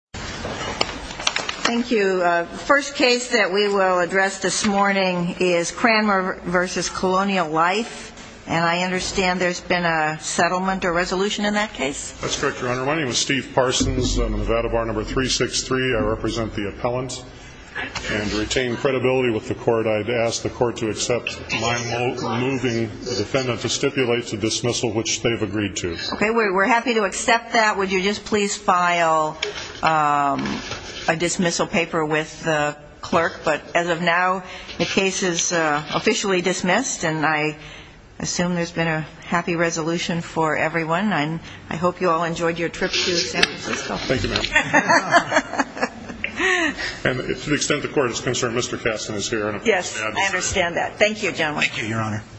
Thank you. The first case that we will address this morning is Cranmore v. Colonial Life. And I understand there's been a settlement or resolution in that case? That's correct, Your Honor. My name is Steve Parsons. I'm Nevada Bar No. 363. I represent the appellant. And to retain credibility with the court, I'd ask the court to accept my moving the defendant to stipulate to dismissal, which they've agreed to. Okay. We're happy to accept that. Would you just please file a dismissal paper with the clerk? But as of now, the case is officially dismissed, and I assume there's been a happy resolution for everyone. And I hope you all enjoyed your trip to San Francisco. Thank you, ma'am. And to the extent the court is concerned, Mr. Katzen is here. Yes, I understand that. Thank you, gentlemen. Thank you, Your Honor.